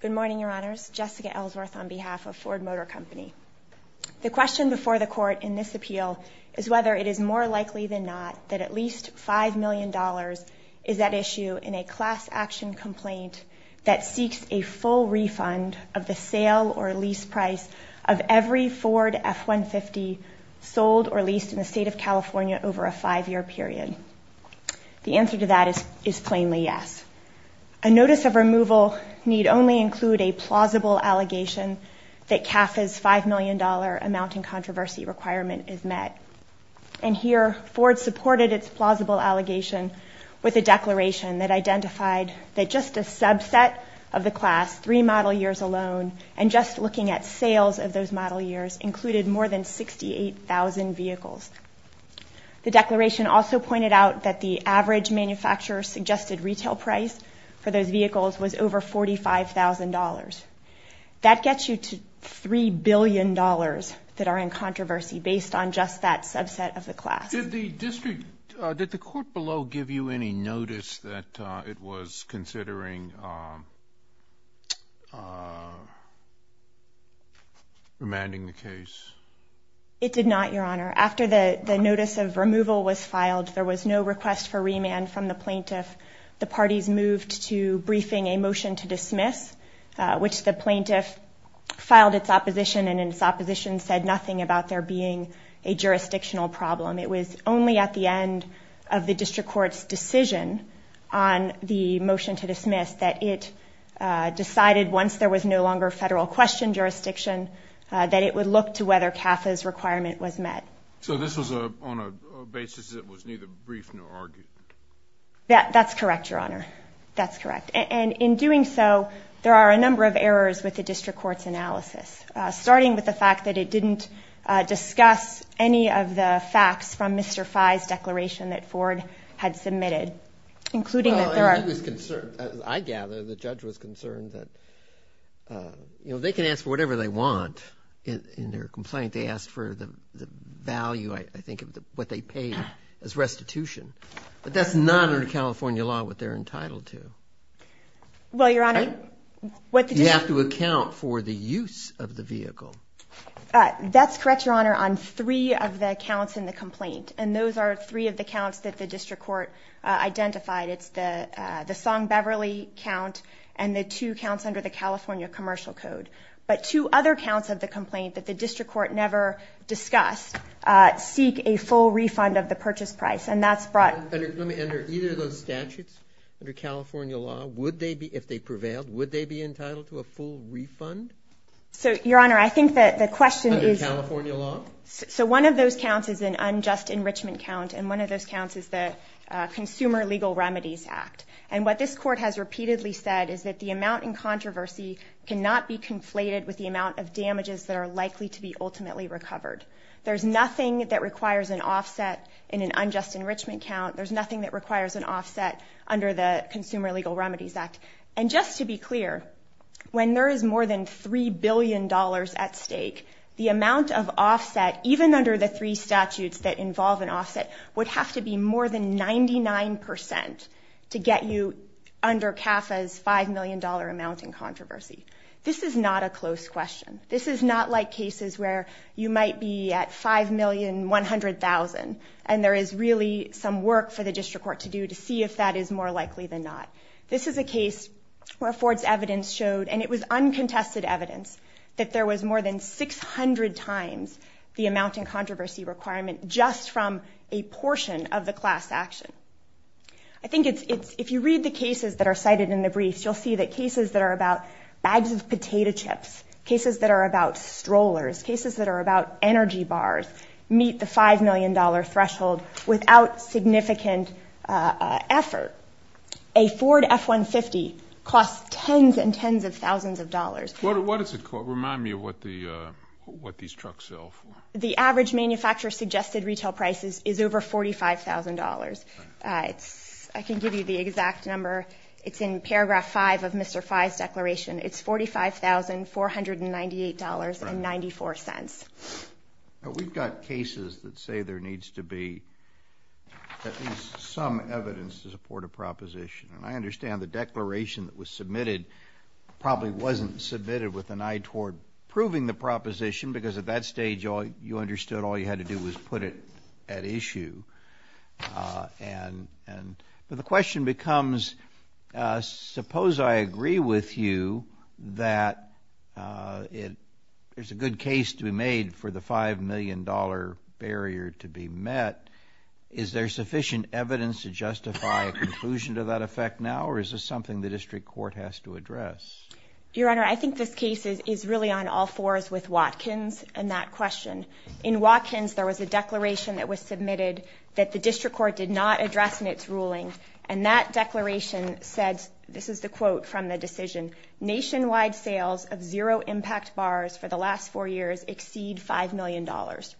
Good morning, your honors. Jessica Ellsworth on behalf of Ford Motor Company. The question before the court in this appeal is whether it is more likely than not that at least five million dollars is at issue in a class action complaint that seeks a full refund of the sale or lease price of every Ford F-150 sold or leased in the state of California over a five-year period. The answer to that is is plainly yes. A notice of removal need only include a plausible allegation that CAF's five million dollar amounting controversy requirement is met. And here Ford supported its plausible allegation with a declaration that identified that just a subset of the class, three model years alone, and just looking at sales of those model years included more than 68,000 vehicles. The declaration also pointed out that the average manufacturer suggested retail price for those vehicles was over $45,000. That gets you to three billion dollars that are in controversy based on just that subset of the class. Did the district, did the court below give you any notice that it was considering remanding the case? It did not your honor. After the notice of removal was filed there was no request for remand from the plaintiff. The parties moved to briefing a motion to dismiss which the plaintiff filed its opposition and in its opposition said nothing about there being a jurisdictional problem. It was only at the end of the district court's decision on the motion to dismiss that it decided once there was no longer federal question jurisdiction that it would look to whether CAF's requirement was met. So this was a on a basis that was neither brief nor argued? Yeah that's correct your honor, that's correct. And in doing so there are a number of errors with the district court's analysis. Starting with the fact that it didn't discuss any of the facts from Mr. Fye's declaration that Ford had submitted including that there are. I gather the judge was concerned that you know they can ask for whatever they want in their complaint. They asked for the value I think of what they paid as restitution but that's not under California law what they're entitled to. Well your honor. You have to account for the use of the counts in the complaint and those are three of the counts that the district court identified. It's the the Song Beverly count and the two counts under the California Commercial Code. But two other counts of the complaint that the district court never discussed seek a full refund of the purchase price and that's brought. Under either of those statutes under California law would they be if they prevailed would they be entitled to a full refund? So your honor I think that the question is so one of those counts is an unjust enrichment count and one of those counts is the Consumer Legal Remedies Act. And what this court has repeatedly said is that the amount in controversy cannot be conflated with the amount of damages that are likely to be ultimately recovered. There's nothing that requires an offset in an unjust enrichment count. There's nothing that requires an offset under the Consumer Legal Remedies Act. And just to be clear when there is more than three billion dollars at stake the amount of offset even under the three statutes that involve an offset would have to be more than 99% to get you under CAFA's five million dollar amount in controversy. This is not a close question. This is not like cases where you might be at five million one hundred thousand and there is really some work for the district court to do to see if that is more likely than not. This is a case where Ford's evidence showed and it was uncontested evidence that there was more than 600 times the amount in controversy requirement just from a portion of the class action. I think it's if you read the cases that are cited in the briefs you'll see that cases that are about bags of potato chips, cases that are about strollers, cases that are about energy bars meet the five million dollar threshold without significant effort. A Ford F-150 costs tens and tens of thousands of dollars. What does it cost? Remind me of what the what these trucks sell for. The average manufacturer suggested retail prices is over forty five thousand dollars. It's I can give you the exact number it's in paragraph five of Mr. Fye's declaration it's forty five thousand four hundred and ninety eight dollars and ninety four cents. We've got cases that say there needs to be at least some evidence to support a proposition and I understand the declaration that was submitted probably wasn't submitted with an eye toward proving the proposition because at that stage all you understood all you had to do was put it at issue and and the question becomes suppose I agree with you that it is a good case to be made for the five million dollar barrier to be met is there sufficient evidence to justify a conclusion to that effect now or is this something the district court has to address? Your Honor I think this case is is really on all fours with Watkins and that question. In Watkins there was a declaration that was submitted that the district court did not address in its ruling and that declaration said this is the quote from the decision nationwide sales of zero impact bars for the last four years exceed five million dollars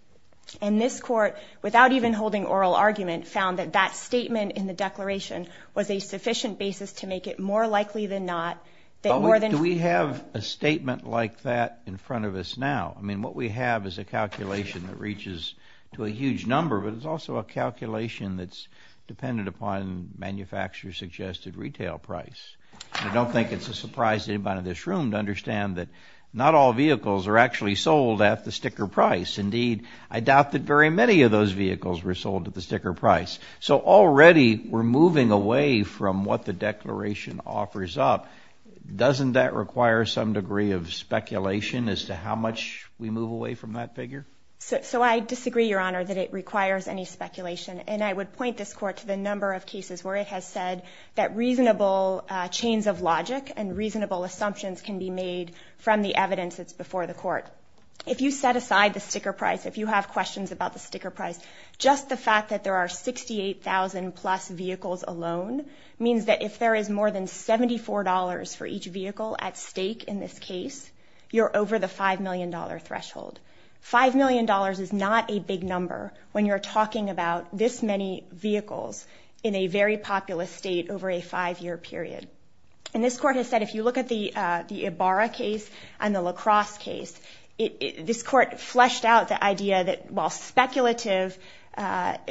and this court without even holding oral argument found that that statement in the declaration was a sufficient basis to make it more likely than not that more than we have a statement like that in front of us now I mean what we have is a calculation that reaches to a huge number but it's also a calculation that's dependent upon manufacturers suggested retail price I don't think it's a surprise anybody in this room to understand that not all vehicles are actually sold at the sticker price indeed I doubt that very many of those vehicles were sold at the sticker price so already we're moving away from what the declaration offers up doesn't that require some degree of speculation as to how much we move away from that figure so I disagree your honor that it requires any speculation and I would that reasonable chains of logic and reasonable assumptions can be made from the evidence that's before the court if you set aside the sticker price if you have questions about the sticker price just the fact that there are 68,000 plus vehicles alone means that if there is more than $74 for each vehicle at stake in this case you're over the five million dollar threshold five million dollars is not a big number when you're talking about this many vehicles in a very populous state over a five-year period and this court has said if you look at the Ibarra case and the La Crosse case this court fleshed out the idea that while speculative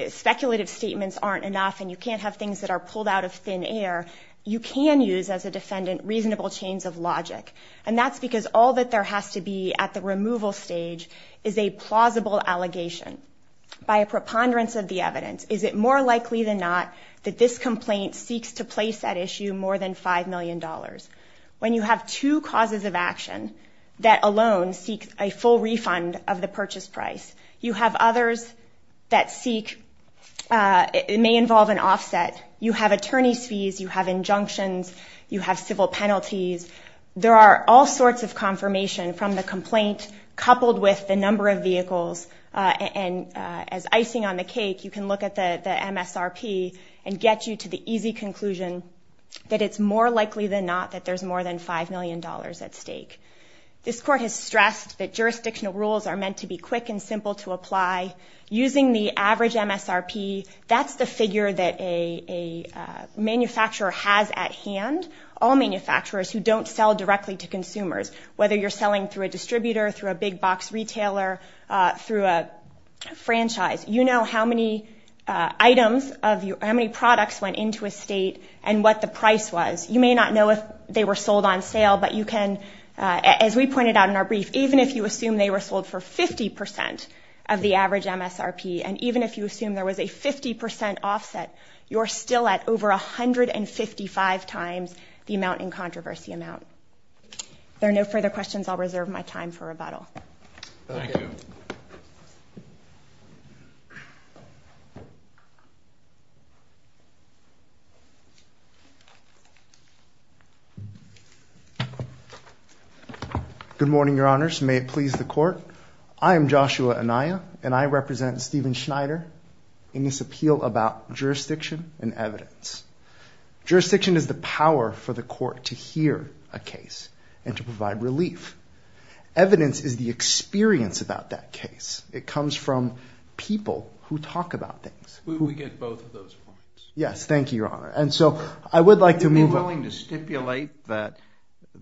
speculative statements aren't enough and you can't have things that are pulled out of thin air you can use as a defendant reasonable chains of logic and that's because all that there has to be at the removal stage is a plausible allegation by a preponderance of the evidence is it likely than not that this complaint seeks to place that issue more than five million dollars when you have two causes of action that alone seek a full refund of the purchase price you have others that seek it may involve an offset you have attorneys fees you have injunctions you have civil penalties there are all sorts of confirmation from the complaint coupled with the number of vehicles and as icing on the cake you can look at the MSRP and get you to the easy conclusion that it's more likely than not that there's more than five million dollars at stake this court has stressed that jurisdictional rules are meant to be quick and simple to apply using the average MSRP that's the figure that a manufacturer has at hand all manufacturers who don't sell directly to consumers whether you're selling through a distributor through a big-box retailer through a franchise you know how many items of you how many products went into a state and what the price was you may not know if they were sold on sale but you can as we pointed out in our brief even if you assume they were sold for 50% of the average MSRP and even if you assume there was a 50% offset you're still at over a hundred and fifty five times the amount in controversy amount there are no further questions I'll reserve my time for rebuttal good morning your honors may it please the court I am Joshua Anaya and I represent Stephen Schneider in this appeal about jurisdiction and evidence jurisdiction is the power for the court to hear a case and to provide relief evidence is the experience about that case it comes from people who talk about things yes thank you your honor and so I would like to be willing to stipulate that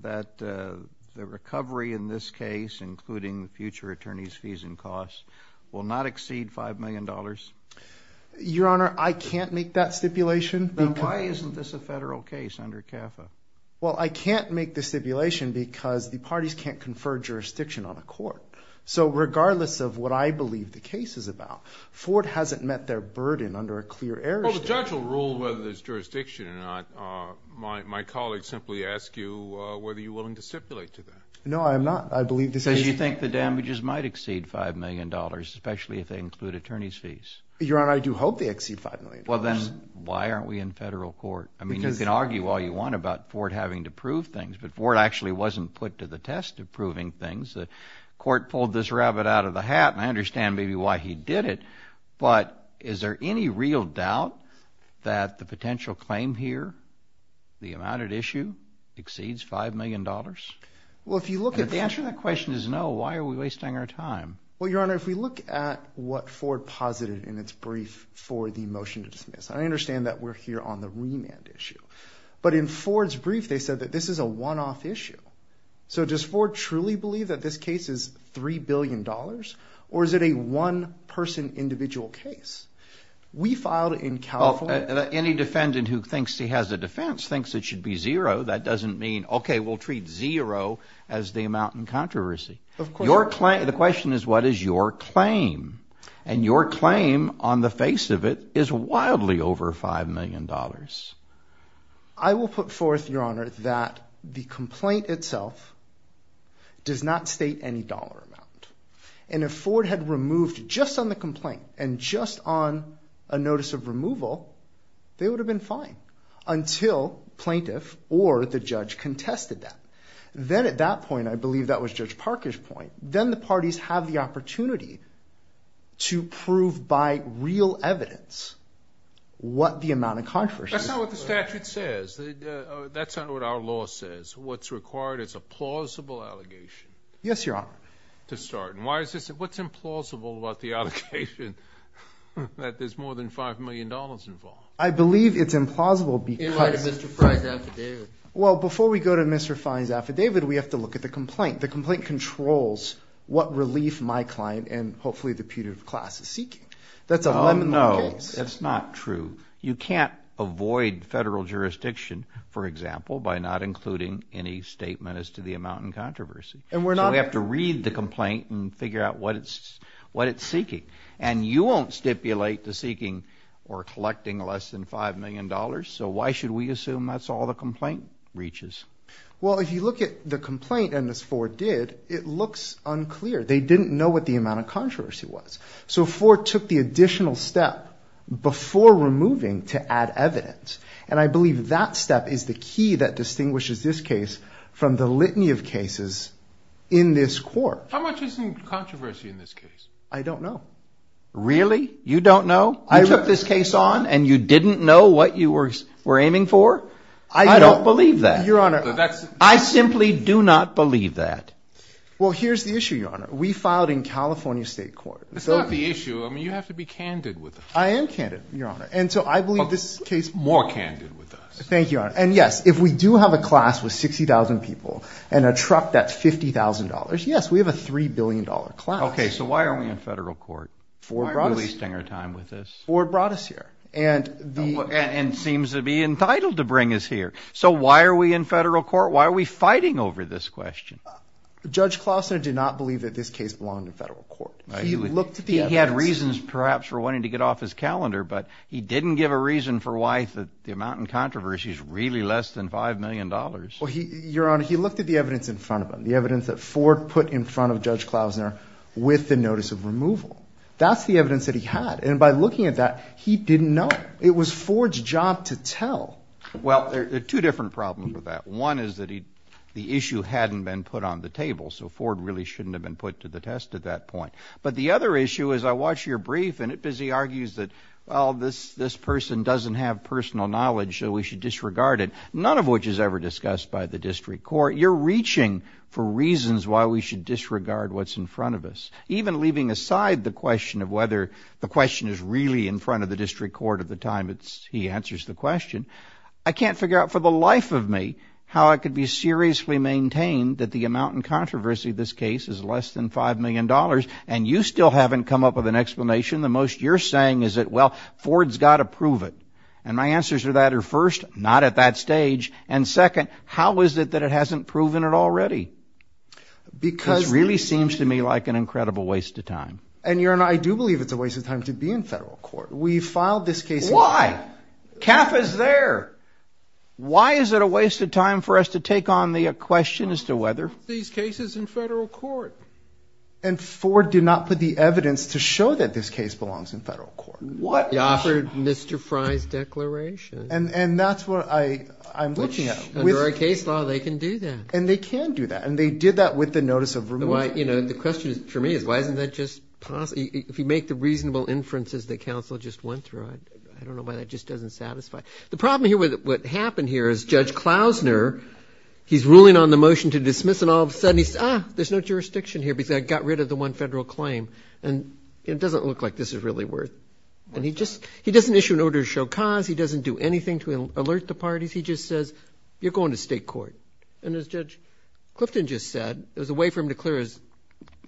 that the recovery in this case including the future attorneys fees and costs will not exceed five million dollars your honor I can't make that stipulation why isn't this a federal case under CAFA well I can't make the stipulation because the parties can't confer jurisdiction on a court so regardless of what I believe the case is about Ford hasn't met their burden under a clear error the judge will rule whether there's jurisdiction or not my colleagues simply ask you whether you willing to stipulate to them no I'm not I believe this as you think the damages might exceed five million dollars especially if they include attorneys fees your honor I do hope they exceed five million well then why aren't we in federal court I mean you can argue all you want about Ford having to prove things but Ford actually wasn't put to the test of proving things the court pulled this rabbit out of the hat and I understand maybe why he did it but is there any real doubt that the potential claim here the amount at issue exceeds five million dollars well if you look at the answer that question is no why are we wasting our time well your honor if look at what Ford posited in its brief for the motion to dismiss I understand that we're here on the remand issue but in Ford's brief they said that this is a one-off issue so just for truly believe that this case is three billion dollars or is it a one-person individual case we filed in California any defendant who thinks he has a defense thinks it should be zero that doesn't mean okay we'll treat zero as the amount in controversy of your client the question is what is your claim and your claim on the face of it is wildly over five million dollars I will put forth your honor that the complaint itself does not state any dollar amount and if Ford had removed just on the complaint and just on a notice of removal they would have been fine until plaintiff or the judge contested that then at that point I believe that was judge Parker's point then the parties have the opportunity to prove by real evidence what the amount of controversy that's not what the statute says that's not what our law says what's required it's a plausible allegation yes your honor to start and why is this what's implausible about the other patient that there's more than five million dollars involved I believe it's implausible because mr. Frank after David well before we go to mr. fines after David we have to look at the what relief my client and hopefully the putative class is seeking that's a nominal it's not true you can't avoid federal jurisdiction for example by not including any statement as to the amount in controversy and we're not we have to read the complaint and figure out what it's what it's seeking and you won't stipulate the seeking or collecting less than five million dollars so why should we assume that's all the complaint reaches well if you look at the they didn't know what the amount of controversy was so for took the additional step before removing to add evidence and I believe that step is the key that distinguishes this case from the litany of cases in this court I don't know really you don't know I wrote this case on and you didn't know what you were we're aiming for I don't believe that your honor that's I simply do not believe that well here's the issue your honor we filed in California State Court so the issue I mean you have to be candid with I am candid your honor and so I believe this case more candid with us thank you and yes if we do have a class with 60,000 people and a truck that's $50,000 yes we have a three billion dollar class okay so why are we in federal court for probably stinger time with this or brought us here and and seems to be entitled to bring us so why are we in federal court why are we fighting over this question judge Klausner did not believe that this case belonged to federal court he looked he had reasons perhaps for wanting to get off his calendar but he didn't give a reason for why that the amount in controversy is really less than five million dollars well he your honor he looked at the evidence in front of him the evidence that Ford put in front of judge Klausner with the notice of removal that's the evidence that he had and by looking at that he didn't know it was Ford's job to tell well there are two different problems with that one is that he the issue hadn't been put on the table so Ford really shouldn't have been put to the test at that point but the other issue is I watch your brief and it busy argues that well this this person doesn't have personal knowledge so we should disregard it none of which is ever discussed by the district court you're reaching for reasons why we should disregard what's in front of us even leaving aside the question of whether the question is really in front of the district court at the time it's he answers the question I can't figure out for the life of me how it could be seriously maintained that the amount in controversy this case is less than five million dollars and you still haven't come up with an explanation the most you're saying is it well Ford's got to prove it and my answers to that are first not at that stage and second how is it that it hasn't proven it already because really seems to me like an incredible waste of time and you're and I do believe it's a waste of time to be in federal court we filed this case why calf is there why is it a waste of time for us to take on the question as to whether these cases in federal court and Ford did not put the evidence to show that this case belongs in federal court what offered mr. Fry's declaration and and that's what I I'm looking at with our case law they can do that and they can do that and they did that with the notice of room I you know the question is for me is why isn't that just possibly if you make the reasonable inferences that counsel just went through I don't know why that just doesn't satisfy the problem here with what happened here is judge Klausner he's ruling on the motion to dismiss and all of a sudden he's ah there's no jurisdiction here because I got rid of the one federal claim and it doesn't look like this is really worth and he just he doesn't issue an order to show cause he doesn't do anything to alert the parties he just says you're going to state court and as judge Clifton just said there's a way for him clear as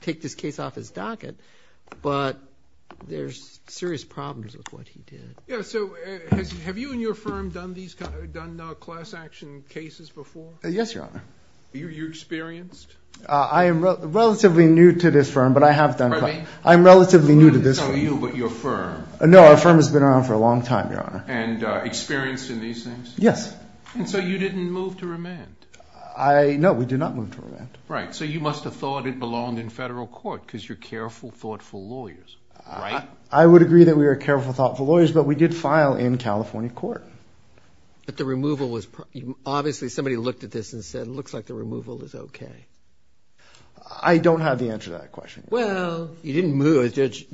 take this case off his docket but there's serious problems with what he did yes your honor you experienced I am relatively new to this firm but I have done I'm relatively new to this you but your firm no our firm has been around for a long time your honor and experience in these things yes I know we do not move to a right so you must have thought it belonged in federal court because you're careful thoughtful lawyers I would agree that we were careful thoughtful lawyers but we did file in California court but the removal was obviously somebody looked at this and said it looks like the removal is okay I don't have the answer to that question well you didn't move as judge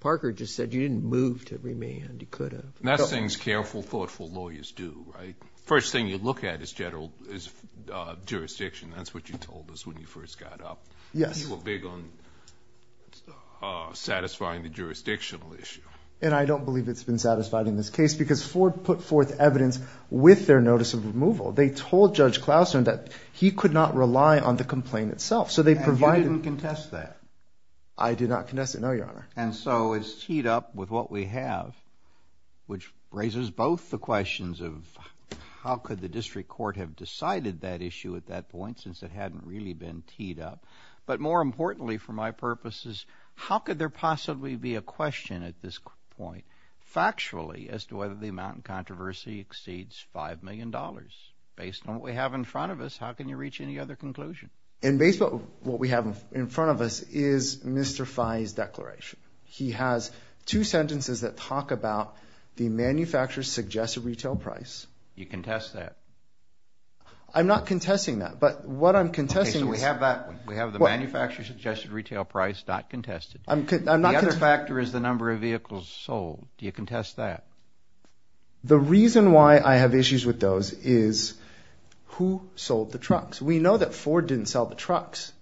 Parker just said you didn't move to remand you could have that's things careful thoughtful lawyers do right first thing you look at is general is jurisdiction that's what you told us when you first got up yes you were big on satisfying the jurisdictional issue and I don't believe it's been satisfied in this case because Ford put forth evidence with their notice of removal they told judge Klausen that he could not rely on the complaint itself so they provided and contest that I do not contest it no your honor and so it's teed up with what we have which raises both the questions of how could the that issue at that point since it hadn't really been teed up but more importantly for my purposes how could there possibly be a question at this point factually as to whether the amount of controversy exceeds five million dollars based on what we have in front of us how can you reach any other conclusion and based on what we have in front of us is mr. Fein's declaration he has two sentences that talk about the manufacturers suggest a retail price you can test that I'm not contesting that but what I'm contesting we have that we have the manufacturer suggested retail price not contested I'm good I'm not a factor is the number of vehicles sold do you contest that the reason why I have issues with those is who sold the trucks we know that Ford didn't sell the trucks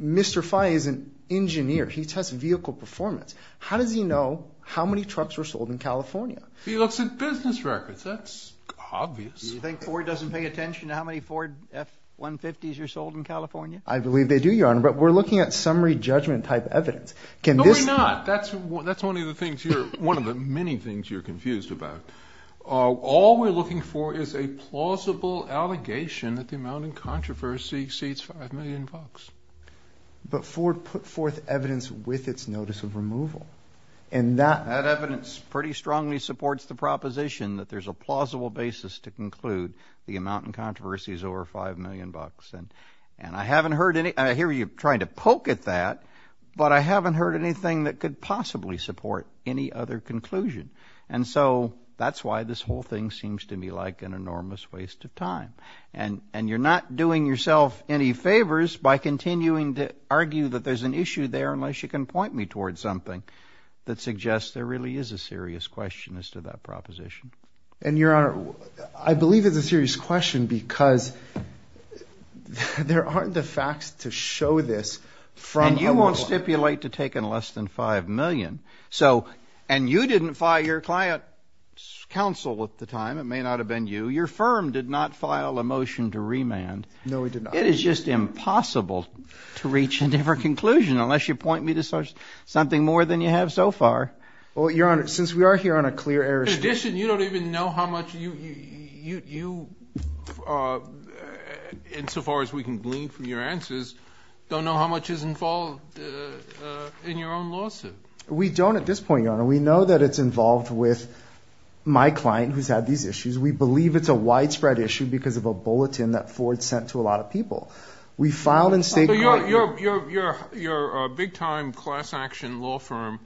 mr. fine is an engineer he tested vehicle performance how does he know how many trucks were sold in California he looks at business records that's obvious you think Ford doesn't pay attention to how many Ford f-150s are sold in California I believe they do your honor but we're looking at summary judgment type evidence can this not that's that's one of the things you're one of the many things you're confused about all we're looking for is a plausible allegation that the amount in controversy exceeds five million bucks but Ford put forth evidence with its notice of removal and that evidence pretty strongly supports the proposition that there's a plausible basis to conclude the amount in controversy is over five million bucks and and I haven't heard any I hear you trying to poke at that but I haven't heard anything that could possibly support any other conclusion and so that's why this whole thing seems to me like an enormous waste of time and and you're not doing yourself any favors by continuing to argue that there's an issue there unless you can point me towards something that suggests there really is a serious question as to that proposition and your honor I believe it's a serious question because there aren't the facts to show this from you won't stipulate to take in less than five million so and you didn't fire your client counsel at the time it may not have been you your firm did not file a motion to remand no we did it is just impossible to reach a different conclusion unless you point me to such something more than you have so far well your honor since we are here on a clear air addition you don't even know how much you you insofar as we can glean from your answers don't know how much is involved in your own lawsuit we don't at this point your honor we know that it's involved with my client who's had these issues we believe it's a widespread issue because of a bulletin that Ford sent to a lot of people we filed and say you're a big-time class action law firm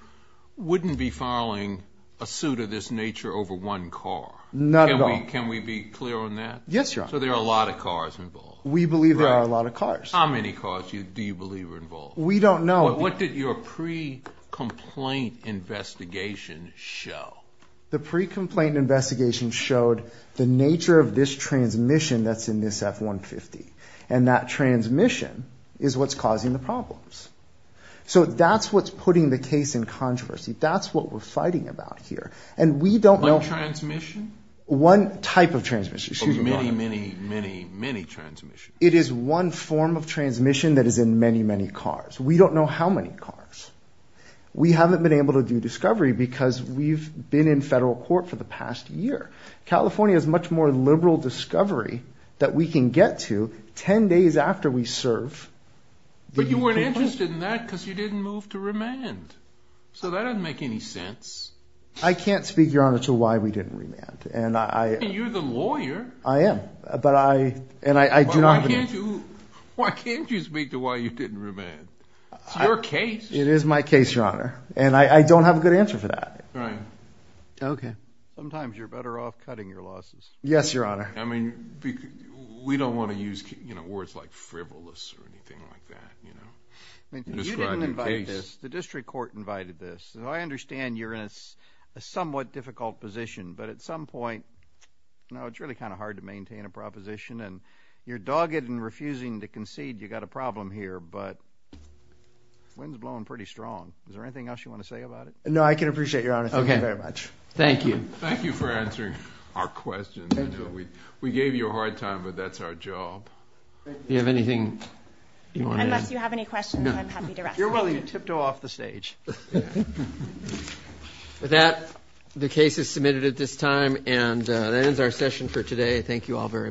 wouldn't be filing a suit of this nature over one car not at all can we be clear on that yes you're so there are a lot of cars we believe there are a lot of cars how many cars you do you believe we're involved we don't know what did your pre-complaint investigation show the pre-complaint investigation showed the nature of this transmission that's in this f-150 and that transmission is what's causing the problems so that's what's putting the case in controversy that's what we're fighting about here and we don't know transmission one type of transmission many many many many transmission it is one form of transmission that is in many many cars we don't know how many cars we haven't been able to do discovery because we've been in federal court for the past year California is much more liberal discovery that we can get to ten days after we serve but you weren't interested in that because you didn't move to remand so that doesn't make any sense I can't speak your honor to why we didn't remand and I you're the lawyer I am but I and I do not do why can't you speak to why you didn't remand your case it is my case your honor and I don't have a good answer for that right okay sometimes you're better off cutting your losses yes your honor I mean we don't want to use you know words like frivolous or anything like that you know the district court invited this so I understand you're in a somewhat difficult position but at some point no it's really kind of hard to maintain a proposition and you're dogged and refusing to concede you got a problem here but winds blowing pretty strong is no I can appreciate your honor okay very much thank you thank you for answering our questions we gave you a hard time but that's our job you have anything you have any questions you're well you tipped off the stage that the case is submitted at this time and that ends our session for today thank you all very much